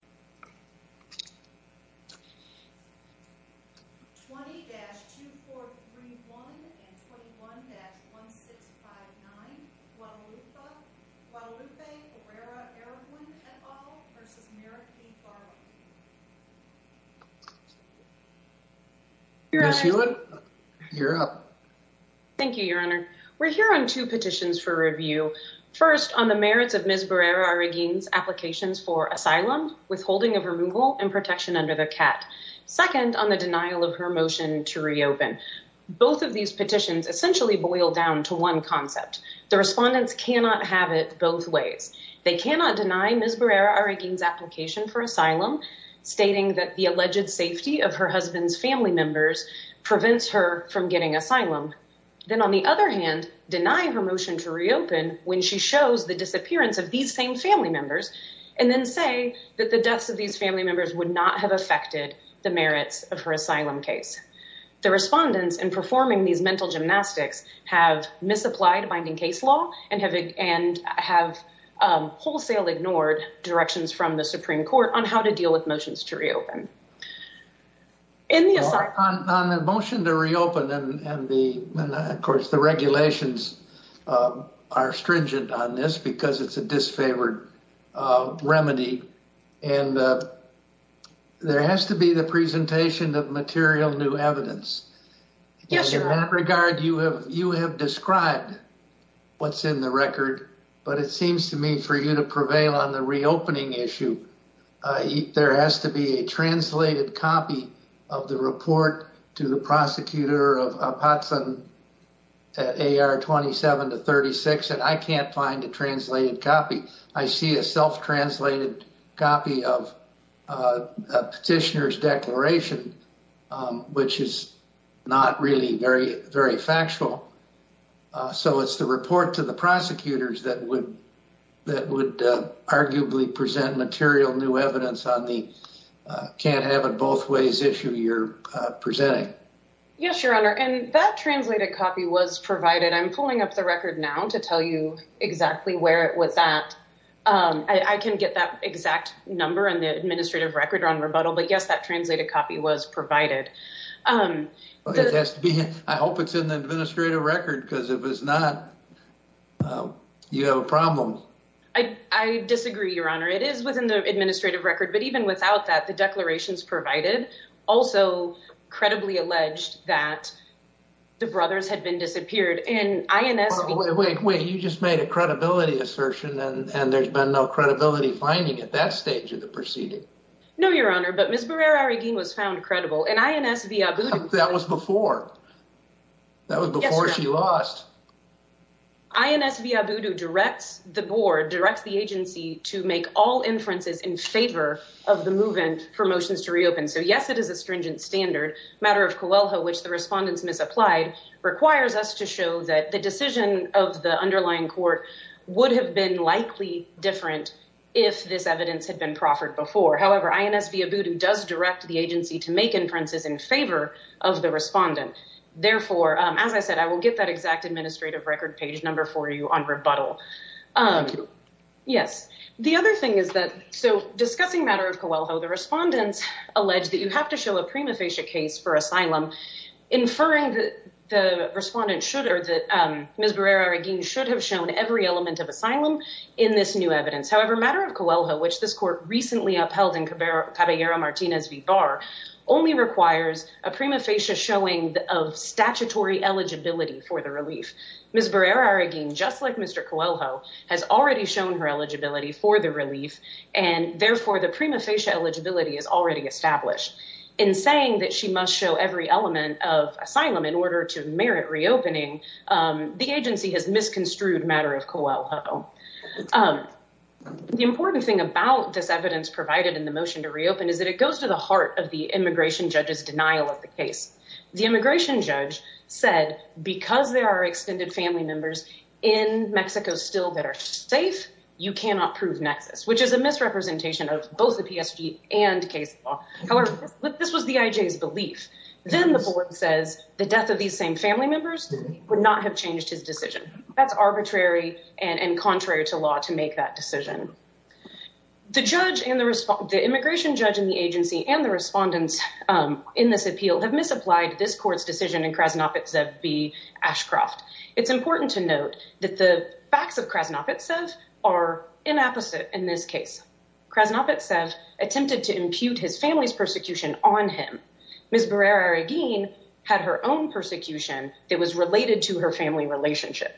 20-2431 and 21-1659, Guadalupe Barrera Arreguin et al. v. Merrick B. Garland Ms. Hewitt, you're up. Thank you, Your Honor. We're here on two petitions for review. First, on the merits of Ms. Barrera Arreguin's applications for asylum, withholding of removal, and protection under the CAT. Second, on the denial of her motion to reopen. Both of these petitions essentially boil down to one concept. The respondents cannot have it both ways. They cannot deny Ms. Barrera Arreguin's application for asylum, stating that the alleged safety of her husband's family members prevents her from getting asylum. Then, on the other hand, deny her motion to reopen when she shows the disappearance of these same family members, and then say that the deaths of these family members would not have affected the merits of her asylum case. The respondents in performing these mental gymnastics have misapplied binding case law and have wholesale ignored directions from the Supreme Court on how to deal with motions to reopen. On the motion to reopen and, of course, the regulations are stringent on this because it's a disfavored remedy. There has to be the presentation of material new evidence. In that regard, you have described what's in the record, but it seems to me for you to prevail on the reopening issue. There has to be a translated copy of the report to the prosecutor of Apatzen at AR 27-36. I can't find a translated copy. I see a self-translated copy of a petitioner's declaration, which is not really very factual. It's the report to the prosecutors that would arguably present material new evidence on the can't-have-it-both-ways issue you're presenting. Yes, Your Honor, and that translated copy was provided. I'm pulling up the record now to tell you exactly where it was at. I can get that exact number in the administrative record on rebuttal, but yes, that translated copy was provided. It has to be. I hope it's in the administrative record because if it's not, you have a problem. I disagree, Your Honor. It is within the administrative record, but even without that, the declarations provided also credibly alleged that the brothers had been disappeared. Wait, you just made a credibility assertion and there's been no credibility finding at that stage of the proceeding. No, Your Honor, but Ms. Barrera-Arreguin was found credible, and INS Viabudu- That was before. That was before she lost. INS Viabudu directs the board, directs the agency to make all inferences in favor of the movement for motions to reopen. So yes, it is a stringent standard. Matter of Coelho, which the respondents misapplied, requires us to show that the decision of the underlying court would have been likely different if this evidence had been proffered before. However, INS Viabudu does direct the agency to make inferences in favor of the respondent. Therefore, as I said, I will get that exact administrative record page number for you on rebuttal. Thank you. Yes. The other thing is that, so discussing Matter of Coelho, the respondents allege that you have to show a prima facie case for asylum, inferring that Ms. Barrera-Arreguin should have shown every element of asylum in this new evidence. However, Matter of Coelho, which this court recently upheld in Caballero-Martinez v. Barr, only requires a prima facie showing of statutory eligibility for the relief. Ms. Barrera-Arreguin, just like Mr. Coelho, has already shown her eligibility for the relief, and therefore the prima facie eligibility is already established. In saying that she must show every element of asylum in order to merit reopening, the agency has misconstrued Matter of Coelho. The important thing about this evidence provided in the motion to reopen is that it goes to the heart of the immigration judge's denial of the case. The immigration judge said, because there are extended family members in Mexico still that are safe, you cannot prove nexus, which is a misrepresentation of both the PSG and case law. However, this was the IJ's belief. Then the board says the death of these same family members would not have changed his decision. That's arbitrary and contrary to law to make that decision. The immigration judge in the agency and the respondents in this appeal have misapplied this court's decision in Krasnopetsev v. Ashcroft. It's important to note that the facts of Krasnopetsev are inapposite in this case. Krasnopetsev attempted to impute his family's persecution on him. Ms. Barrera-Arreguin had her own persecution that was related to her family relationship.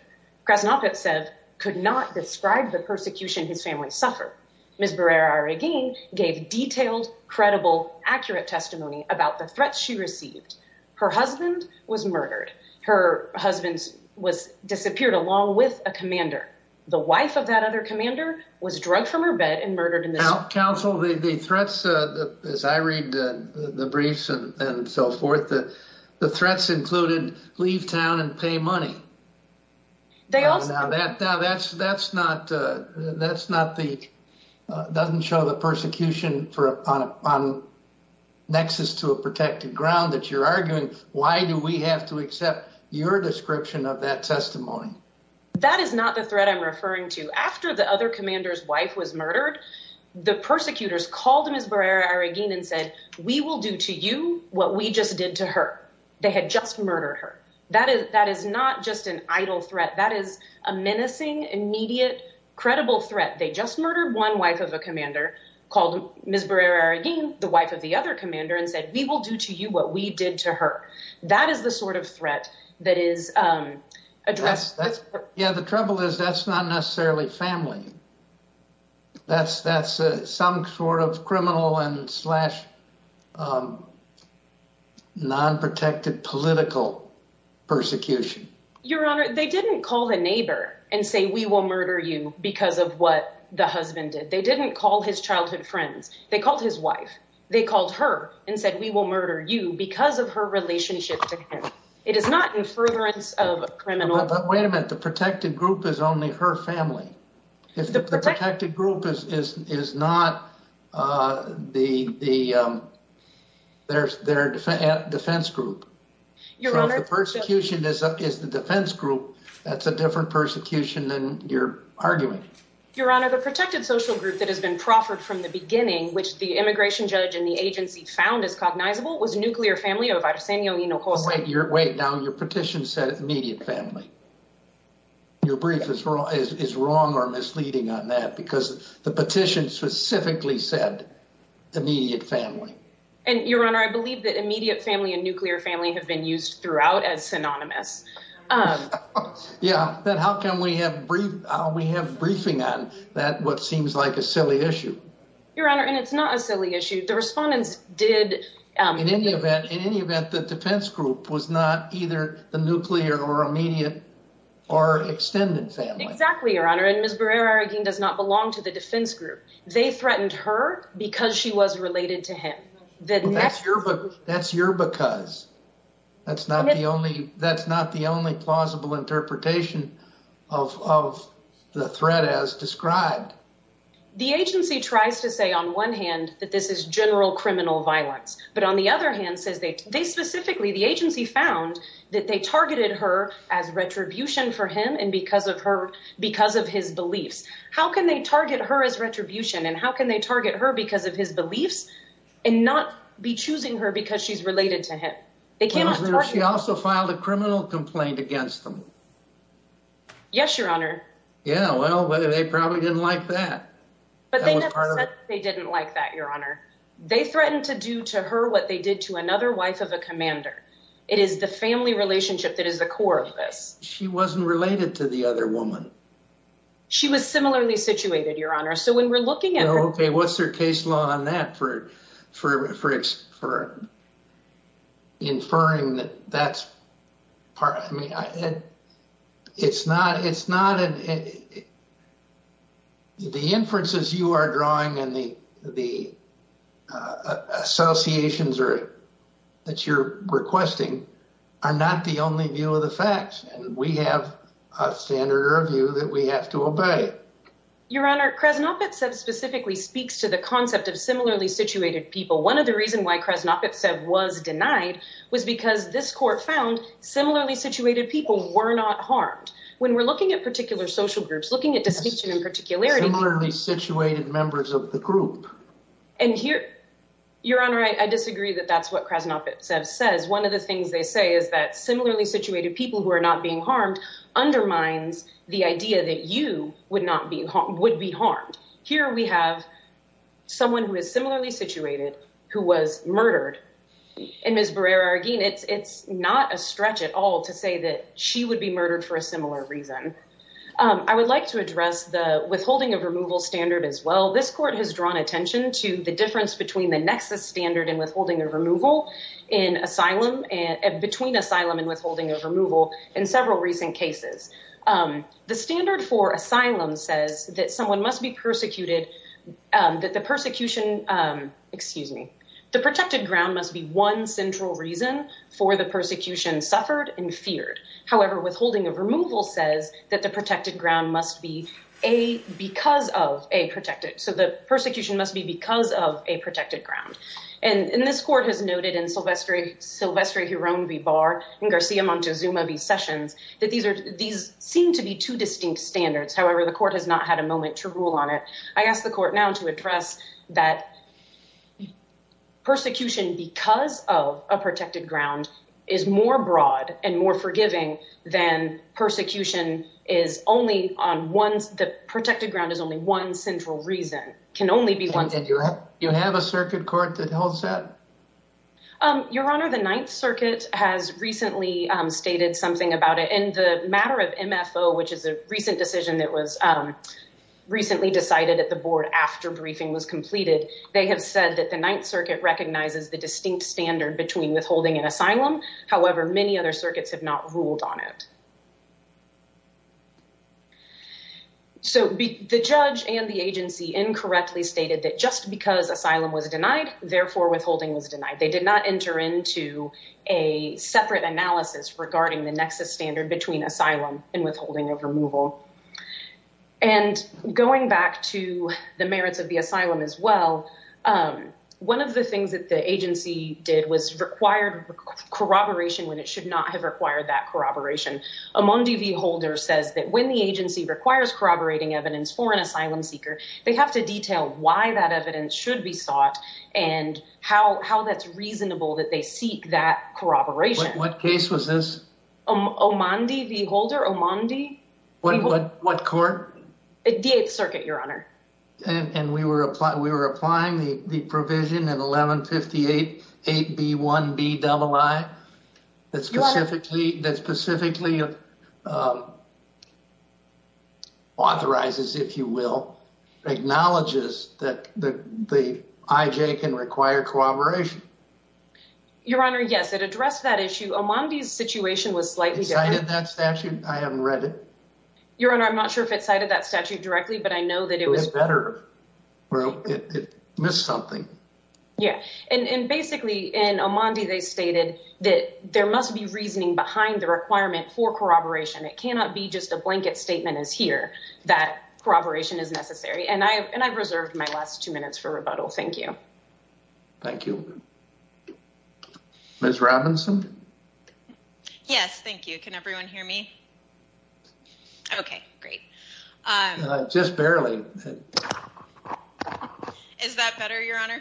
Krasnopetsev could not describe the persecution his family suffered. Ms. Barrera-Arreguin gave detailed, credible, accurate testimony about the threats she received. Her husband was murdered. Her husband disappeared along with a commander. The wife of that other commander was murdered. The threats, as I read the briefs and so forth, the threats included leave town and pay money. That doesn't show the persecution on nexus to a protected ground that you're arguing. Why do we have to accept your description of that testimony? That is not the was murdered. The persecutors called Ms. Barrera-Arreguin and said, we will do to you what we just did to her. They had just murdered her. That is not just an idle threat. That is a menacing, immediate, credible threat. They just murdered one wife of a commander called Ms. Barrera-Arreguin, the wife of the other commander, and said, we will do to you what we did to her. That is the sort of threat that is addressed. The trouble is that's not necessarily family. That's some sort of criminal and slash non-protected political persecution. Your Honor, they didn't call a neighbor and say, we will murder you because of what the husband did. They didn't call his childhood friends. They called his wife. They called her and said, we will murder you because of her relationship to him. It is not in furtherance of criminal. Wait a minute. The protected group is only her family. The protected group is not defense group. The persecution is the defense group. That's a different persecution than your argument. Your Honor, the protected social group that has been proffered from the beginning, which the immigration judge and the agency found is cognizable, was a nuclear family of Arsenio Hinojosa. Wait. Now your petition said immediate family. Your brief is wrong or misleading on that because the petition specifically said immediate family. Your Honor, I believe that immediate family and nuclear family have been used throughout as synonymous. Yeah. Then how can we have briefing on that, what seems like a silly issue? Your Honor, and it's not a silly issue. The respondents did... In any event, the defense group was not either the nuclear or immediate or extended family. Exactly, Your Honor. And Ms. Barrera-Arreguin does not belong to the defense group. They threatened her because she was related to him. That's your because. That's not the only plausible interpretation of the threat as described. The agency tries to say on one hand that this is general criminal violence, but on the other hand says they specifically, the agency found that they targeted her as retribution for him and because of her, because of his beliefs. How can they target her as retribution and how can they target her because of his beliefs and not be choosing her because she's related to him? They cannot. Yes, Your Honor. Yeah, well, they probably didn't like that. But they never said they didn't like that, Your Honor. They threatened to do to her what they did to another wife of a commander. It is the family relationship that is the core of this. She wasn't related to the other woman. She was similarly situated, Your Honor. So when we're looking at her... Okay, what's their case law on that for inferring that that's part... I mean, it's not... The inferences you are drawing and the associations that you're requesting are not the only view of the facts. And we have a standard of view that we have to obey. Your Honor, Krasnopetsev specifically speaks to the concept of similarly situated people. One of the reasons why Krasnopetsev was denied was because this court found similarly situated people were not harmed. When we're looking at particular social groups, looking at distinction and particularity... Similarly situated members of the group. And here, Your Honor, I disagree that that's what Krasnopetsev says. One of the things they say is that similarly situated people who are not being harmed undermines the idea that you would be harmed. Here we have someone who is similarly situated who was murdered. And Ms. Barreira-Aguin, it's not a stretch at all to say that she would be murdered for a similar reason. I would like to address the withholding of removal standard as well. This court has drawn attention to the difference between the nexus standard and withholding of removal in asylum... Between asylum and withholding of removal in several recent cases. The standard for asylum says that someone for the persecution suffered and feared. However, withholding of removal says that the protected ground must be because of a protected... So the persecution must be because of a protected ground. And this court has noted in Silvestri-Jerome v. Barre and Garcia-Montezuma v. Sessions that these seem to be two distinct standards. However, the court has not had a You have a circuit court that holds that? Your Honor, the Ninth Circuit has recently stated something about it. In the matter of MFO, which is a recent decision that was recently decided at the board after briefing was completed, they have said that the Ninth Circuit recognizes the distinct standard between withholding and asylum. However, many other circuits have not ruled on it. So the judge and the agency incorrectly stated that just because asylum was denied, therefore withholding was denied. They did not enter into a separate analysis regarding the nexus standard between asylum and withholding of removal. And going back to the merits of the corroboration, when it should not have required that corroboration, Omondi v. Holder says that when the agency requires corroborating evidence for an asylum seeker, they have to detail why that evidence should be sought and how that's reasonable that they seek that corroboration. What case was this? Omondi v. Holder? Omondi? What court? The Eighth Circuit, Your Honor. And we were applying the provision in 1158 8B1Bii that specifically authorizes, if you will, acknowledges that the IJ can require corroboration. Your Honor, yes, it addressed that issue. Omondi's situation was slightly different. That statute, I haven't read it. Your Honor, I'm not sure if it cited that statute directly, but I know that it was better. Well, it missed something. Yeah. And basically in Omondi, they stated that there must be reasoning behind the requirement for corroboration. It cannot be just a blanket statement is here that corroboration is necessary. And I've reserved my last two minutes for rebuttal. Thank you. Thank you. Ms. Robinson? Yes. Thank you. Can everyone hear me? Okay, great. Just barely. Is that better, Your Honor?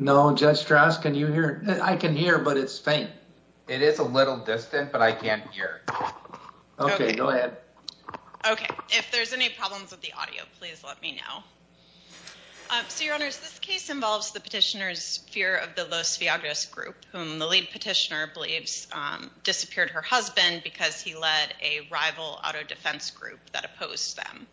No. Judge Strauss, can you hear? I can hear, but it's faint. It is a little distant, but I can't hear. Okay, go ahead. Okay. If there's any problems with the audio, please let me know. So, Your Honors, this case involves the petitioner's fear of the Los Viagras group, whom the lead petitioner believes disappeared her husband because he led a rival auto defense group that opposed them.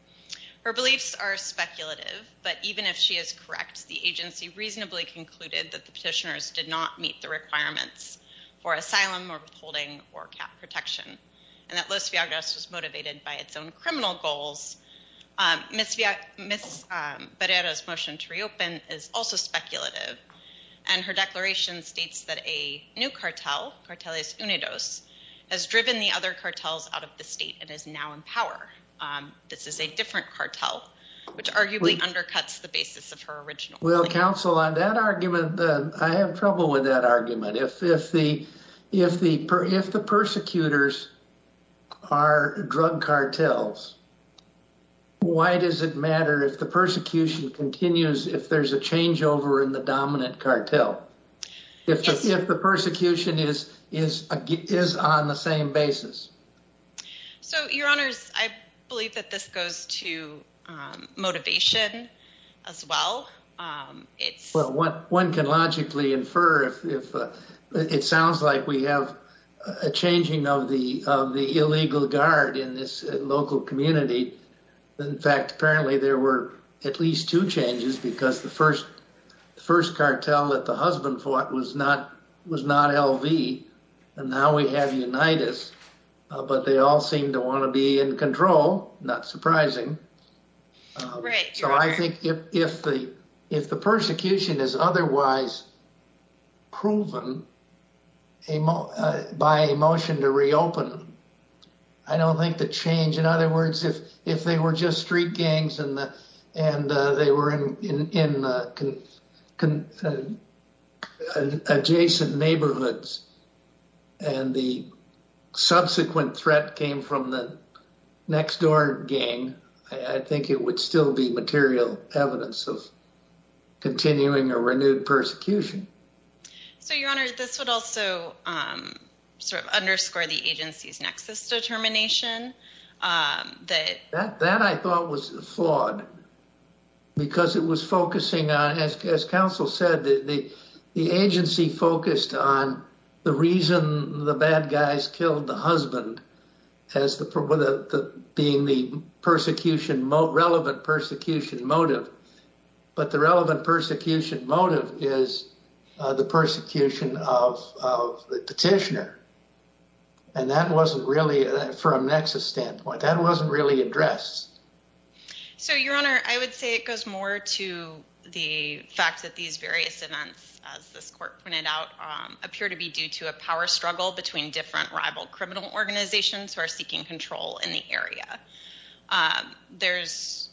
Her beliefs are speculative, but even if she is correct, the agency reasonably concluded that the petitioners did not meet the requirements for asylum or withholding or cap protection, and that Los Viagras was motivated by its own criminal goals. Ms. Barrera's motion to reopen is also speculative, and her declaration states that a new cartel, Cartelias Unidos, has driven the other cartels out of the state and is now in power. This is a different cartel, which arguably undercuts the basis of her original claim. Well, counsel, on that argument, I have trouble with that argument. If the persecutors are drug cartels, why does it matter if the persecution continues if there's a changeover in the dominant cartel, if the persecution is on the same basis? So, Your Honors, I believe that this goes to motivation as well. Well, one can logically infer if it sounds like we have a changing of the illegal guard in this local community. In fact, apparently there were at least two changes because the first cartel that the husband fought was not LV, and now we have Unitas, but they all seem to want to be in if the persecution is otherwise proven by a motion to reopen. I don't think the change, in other words, if they were just street gangs and they were in adjacent neighborhoods and the subsequent threat came from the next door gang, I think it would still be material evidence of continuing a renewed persecution. So, Your Honors, this would also sort of underscore the agency's nexus determination. That I thought was flawed because it was focusing on, as counsel said, the agency focused on the reason the bad guys killed the husband as being the relevant persecution motive, but the relevant persecution motive is the persecution of the petitioner. And that wasn't really, from a nexus standpoint, that wasn't really addressed. So, Your Honor, I would say it goes more to the fact that these various events, as this court printed out, appear to be due to a power of criminal organizations who are seeking control in the area. There's,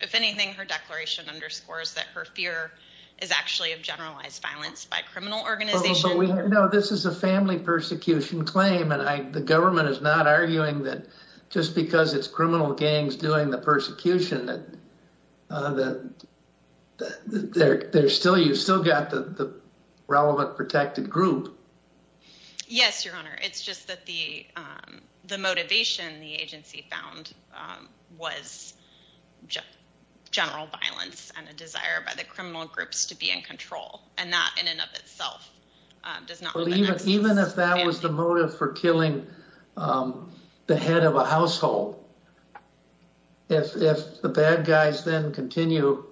if anything, her declaration underscores that her fear is actually of generalized violence by criminal organizations. No, this is a family persecution claim, and the government is not arguing that just because it's criminal gangs doing the persecution that you've still got the relevant protected group. Yes, Your Honor. It's just that the motivation the agency found was general violence and a desire by the criminal groups to be in control, and that in and of itself does not... Even if that was the motive for killing the head of a household, if the bad guys then continue...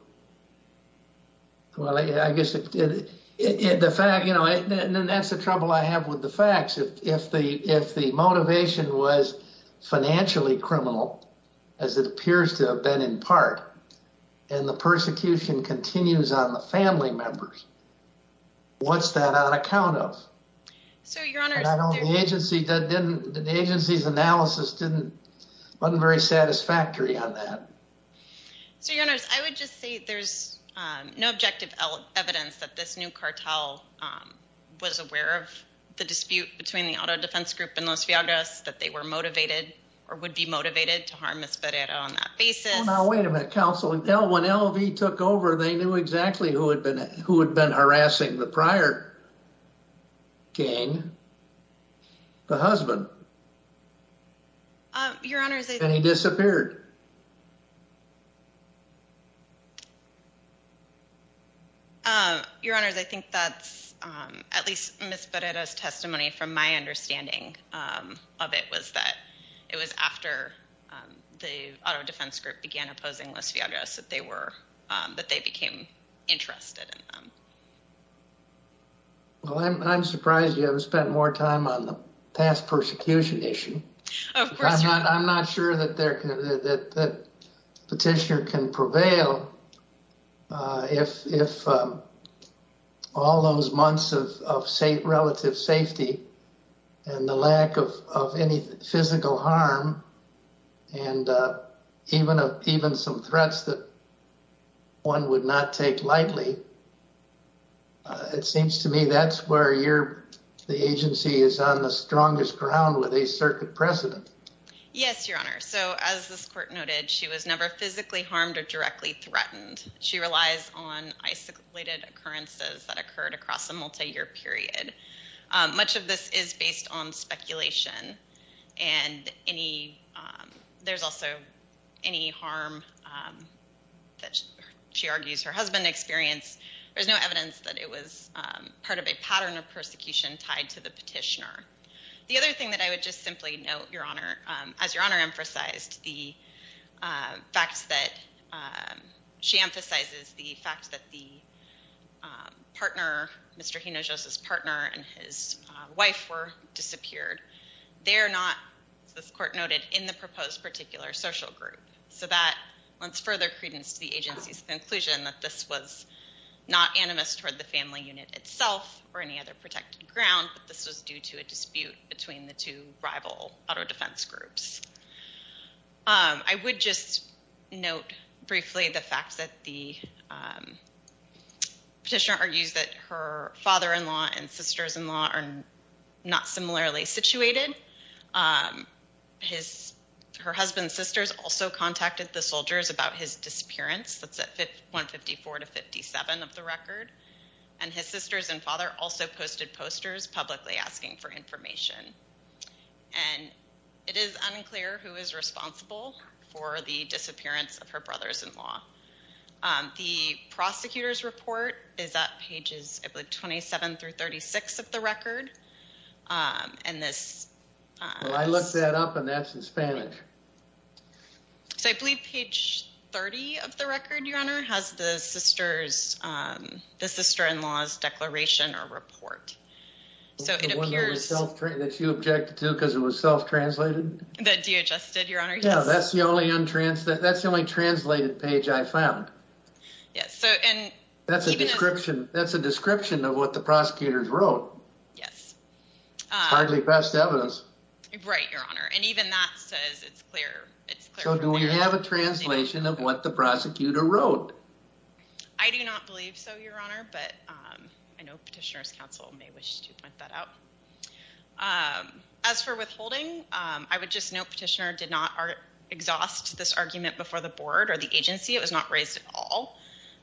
Well, I guess the fact, you know, that's the trouble I have with the facts. If the motivation was financially criminal, as it appears to have been in part, and the persecution continues on the family members, what's that on account of? The agency's analysis wasn't very satisfactory on that. So, Your Honor, I would just say there's no objective evidence that this new cartel was aware of the dispute between the auto defense group and Los Villagras, that they were motivated or would be motivated to harm Ms. Ferreira on that basis. Oh, now, wait a minute, counsel. When LV took over, they knew exactly who had been harassing the prior gang, the husband. Your Honor... And he disappeared. Your Honor, I think that's, at least Ms. Ferreira's testimony, from my understanding of it was that it was after the auto defense group began opposing Los Villagras that they became interested in them. Well, I'm surprised you haven't spent more time on the past persecution issue. I'm not sure that the petitioner can prevail if all those months of relative safety and the lack of any physical harm and even some threats that one would not take lightly. It seems to me that's where the agency is on the strongest ground with a circuit precedent. Yes, Your Honor. So, as this court noted, she was never physically harmed or directly threatened. She relies on isolated occurrences that occurred across a multi-year period. Much of this is based on speculation and there's also any harm that she argues her husband experienced. There's no evidence that it was part of a pattern of persecution tied to the petitioner. The other thing that I would just simply note, Your Honor, as Your Honor emphasized, the fact that she emphasizes the fact that Mr. Hinojosa's partner and his wife were disappeared. They're not, as this court noted, in the proposed particular social group. So that lends further credence to the agency's conclusion that this was not animus toward the family unit itself or any other protected ground, but this was due to a dispute between the two rival auto I would just note briefly the fact that the petitioner argues that her father-in-law and sisters-in-law are not similarly situated. Her husband's sisters also contacted the soldiers about his disappearance. That's at 154 to 57 of the record. And his sisters and father also posted posters publicly asking for information. And it is unclear who is responsible for the disappearance of her brothers-in-law. The prosecutor's report is at pages, I believe, 27 through 36 of the record. And this... I looked that up and that's in Spanish. So I believe page 30 of the record, Your Honor, has the sister-in-law's declaration or report. So it appears... The one that you objected to because it was self-translated? That DHS did, Your Honor, yes. Yeah, that's the only untranslated... that's the only translated page I found. Yes, so and... That's a description. That's a description of what the prosecutors wrote. Yes. Hardly past evidence. Right, Your Honor. And even that says it's clear. So do we have a translation of what the prosecutor wrote? I do not believe so, Your Honor, but I know Petitioner's point that out. As for withholding, I would just note Petitioner did not exhaust this argument before the board or the agency. It was not raised at all.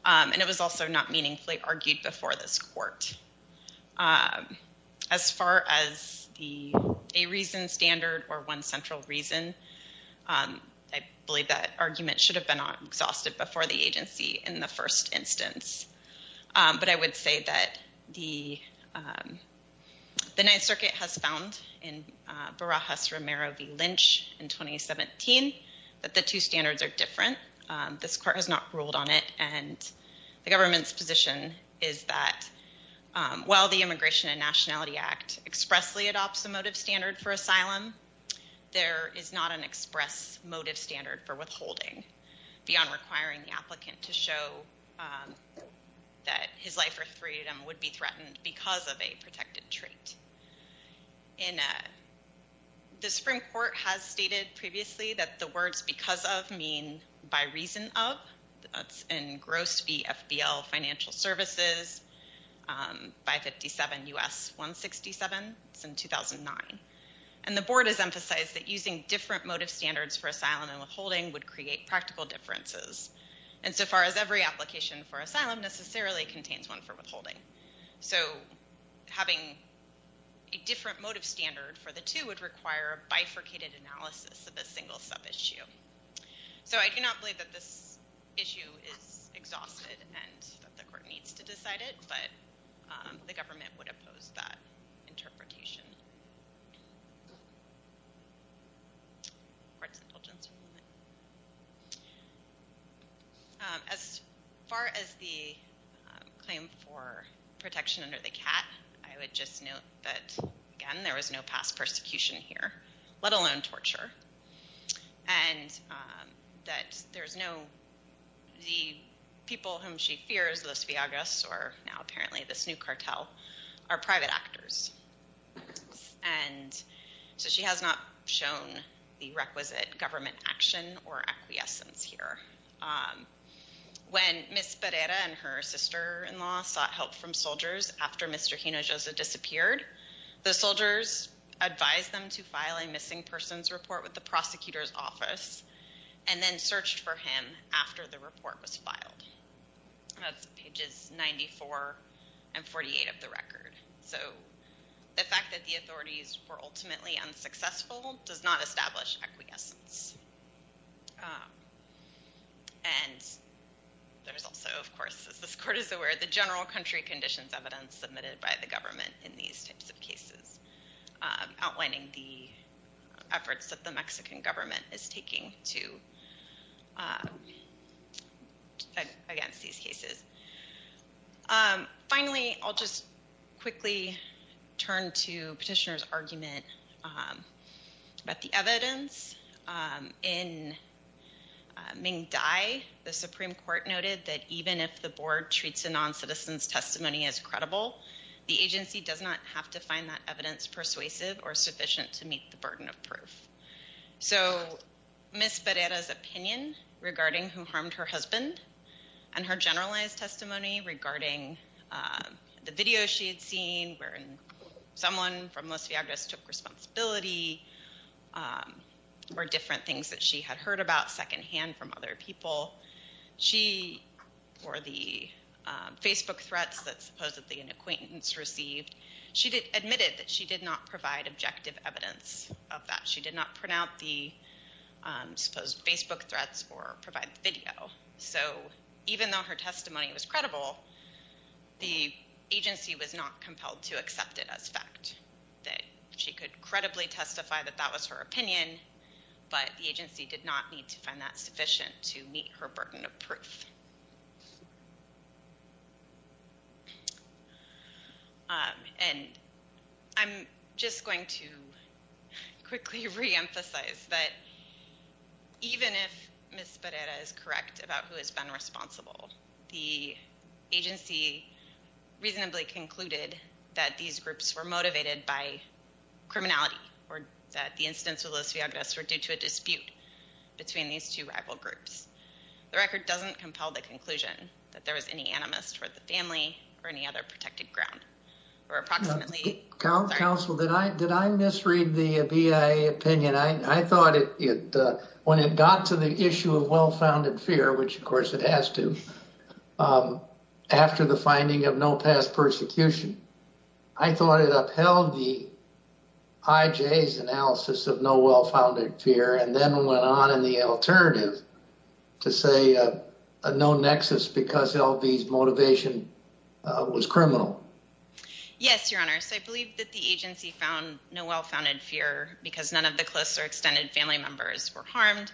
And it was also not meaningfully argued before this court. As far as the a reason standard or one central reason, I believe that argument should have been exhausted before the agency in the first instance. But I would say that the Ninth Circuit has found in Barajas-Romero v. Lynch in 2017 that the two standards are different. This court has not ruled on it. And the government's position is that while the Immigration and Nationality Act expressly adopts a motive standard for asylum, there is not an express motive standard for withholding beyond requiring the applicant to show that his life or freedom would be threatened because of a protected trait. The Supreme Court has stated previously that the words because of mean by reason of. That's in Gross v. FBL Financial Services, 557 U.S. 167. It's in 2009. And the board has emphasized that using different motive standards for asylum and withholding would create practical differences. And so far as every application for asylum necessarily contains one for withholding. So having a different motive standard for the two would require a bifurcated analysis of a single sub-issue. So I do not believe that this issue is exhausted and that the court needs to decide it, but the government would oppose that interpretation. As far as the claim for protection under the CAT, I would just note that again there was no past persecution here, let alone torture. And that there's no, the people whom she fears, Los Viagras or now apparently this new cartel, are private actors. And so she has not shown the requisite government action or acquiescence here. When Ms. Pereira and her sister-in-law sought help from soldiers after Mr. Hinojosa disappeared, the soldiers advised them to file a missing persons report with the prosecutor's office and then searched for him after the report was filed. That's pages 94 and 48 of the record. So the fact that the authorities were ultimately unsuccessful does not establish acquiescence. And there's also, of course, as this court is aware, the general country conditions evidence submitted by the government in these types of cases outlining the efforts that the Mexican government is taking against these cases. Finally, I'll just quickly turn to petitioner's argument about the evidence. In Ming Dai, the Supreme Court noted that even if the board treats a non-citizen's testimony as credible, the agency does not have to find that evidence persuasive or sufficient to meet the burden of proof. So Ms. Pereira's opinion regarding who harmed her husband and her generalized testimony regarding the video she had seen where someone from Los Viagras took responsibility were different things that she had heard about secondhand from other people. She, or the Facebook threats that supposedly an acquaintance received, she admitted that she did not provide objective evidence of that. She did not print out the supposed Facebook threats or provide the video. So even though her testimony was credible, the agency was not compelled to accept it as fact, that she could credibly testify that that was her opinion, but the agency did not need to find that sufficient to meet her burden of proof. And I'm just going to quickly reemphasize that even if Ms. Pereira is correct about who has been responsible, the agency reasonably concluded that these groups were motivated by criminality or that the incidents with Los Viagras were due to a dispute between these two rival groups. The record doesn't compel the conclusion that there was any animus toward the family or any other protected ground, or approximately... Counsel, did I misread the BIA opinion? I thought it, when it got to the issue of well-founded fear, which of course it has to, after the finding of no past persecution, I thought it upheld the analysis of no well-founded fear and then went on in the alternative to say no nexus because LV's motivation was criminal. Yes, your honor. So I believe that the agency found no well-founded fear because none of the close or extended family members were harmed.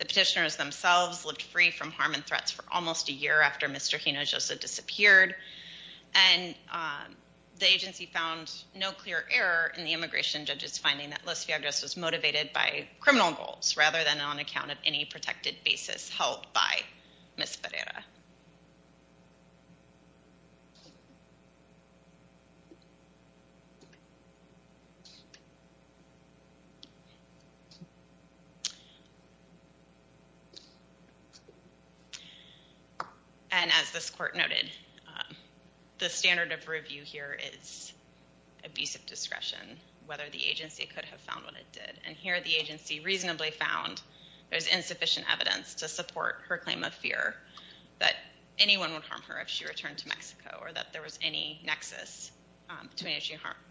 The petitioners themselves lived free from harm and threats for almost a year after Mr. Hinojosa disappeared, and the agency found no clear error in the immigration judge's finding that Los Viagras was motivated by criminal goals rather than on account of any protected basis held by Ms. Pereira. And as this court noted, the standard of review here is abusive discretion, whether the agency could have found what it did. And here the agency reasonably found there's insufficient evidence to anyone would harm her if she returned to Mexico or that there was any nexus between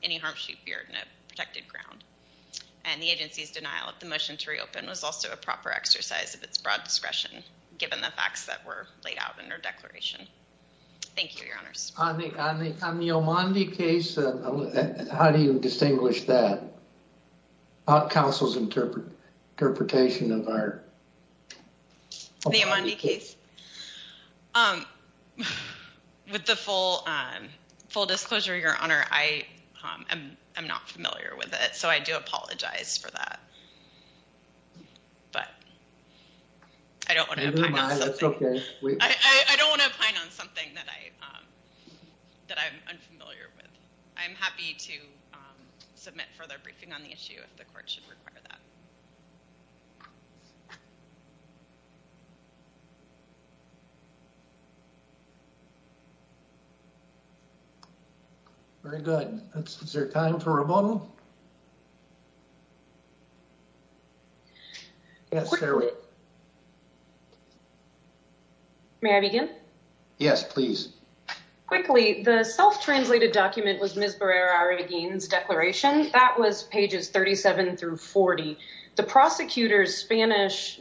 any harm she feared and a protected ground. And the agency's denial of the motion to reopen was also a proper exercise of its broad discretion, given the facts that were laid out in her declaration. Thank you, your honors. On the Omandi case, how do you distinguish that? Counsel's interpretation of our case. With the full disclosure, your honor, I am not familiar with it, so I do apologize for that. But I don't want to pine on something that I'm unfamiliar with. I'm happy to submit further on the issue if the court should require that. Very good. Is there time for rebuttal? May I begin? Yes, please. Quickly, the self-translated document was Ms. Pereira-Aguin's declaration. That was pages 37 through 40. The prosecutor's Spanish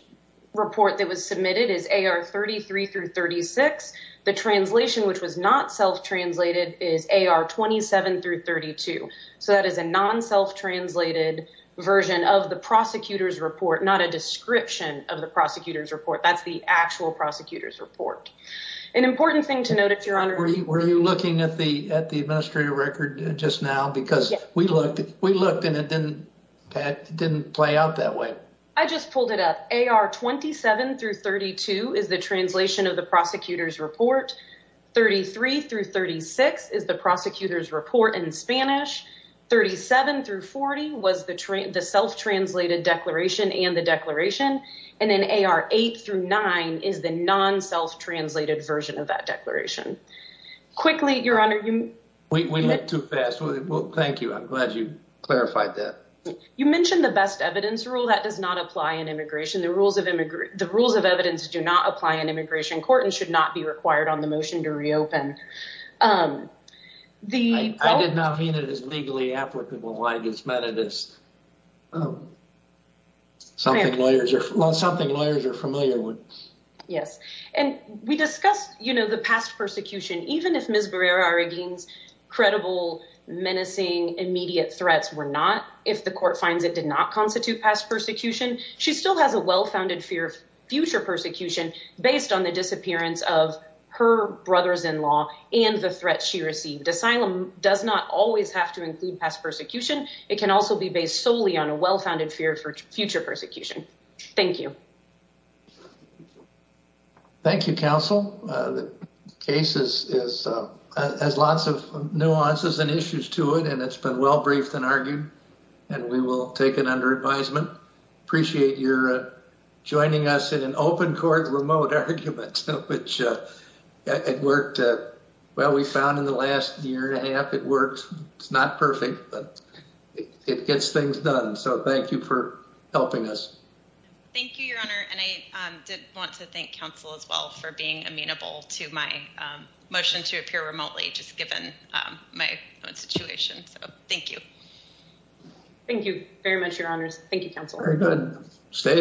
report that was submitted is AR 33 through 36. The translation, which was not self-translated, is AR 27 through 32. So that is a non-self-translated version of the prosecutor's report, not a description of the prosecutor's report. That's the actual prosecutor's report. An important thing to note is that we looked and it didn't play out that way. I just pulled it up. AR 27 through 32 is the translation of the prosecutor's report. 33 through 36 is the prosecutor's report in Spanish. 37 through 40 was the self-translated declaration and the declaration. And then AR 8 through 9 is the non-self-translated version of I'm glad you clarified that. You mentioned the best evidence rule. That does not apply in immigration. The rules of evidence do not apply in immigration court and should not be required on the motion to reopen. I did not mean it as legally applicable. I just meant it as something lawyers are familiar with. Yes. And we discussed the past persecution. Even if Ms. Pereira-Aguin's menacing immediate threats were not, if the court finds it did not constitute past persecution, she still has a well-founded fear of future persecution based on the disappearance of her brother-in-law and the threat she received. Asylum does not always have to include past persecution. It can also be based solely on a well-founded fear for future persecution. Thank you. Thank you, counsel. The case has lots of nuances and issues to it, and it's been well-briefed and argued, and we will take it under advisement. Appreciate your joining us in an open court remote argument, which it worked well, we found in the last year and a half. It worked. It's not perfect, but it gets things done. So thank you for helping us. Thank you, your honor. And I did want to thank counsel as well for being amenable to my motion to appear remotely, just given my own situation. So thank you. Thank you very much, your honors. Thank you, counsel. Very good. Stay healthy.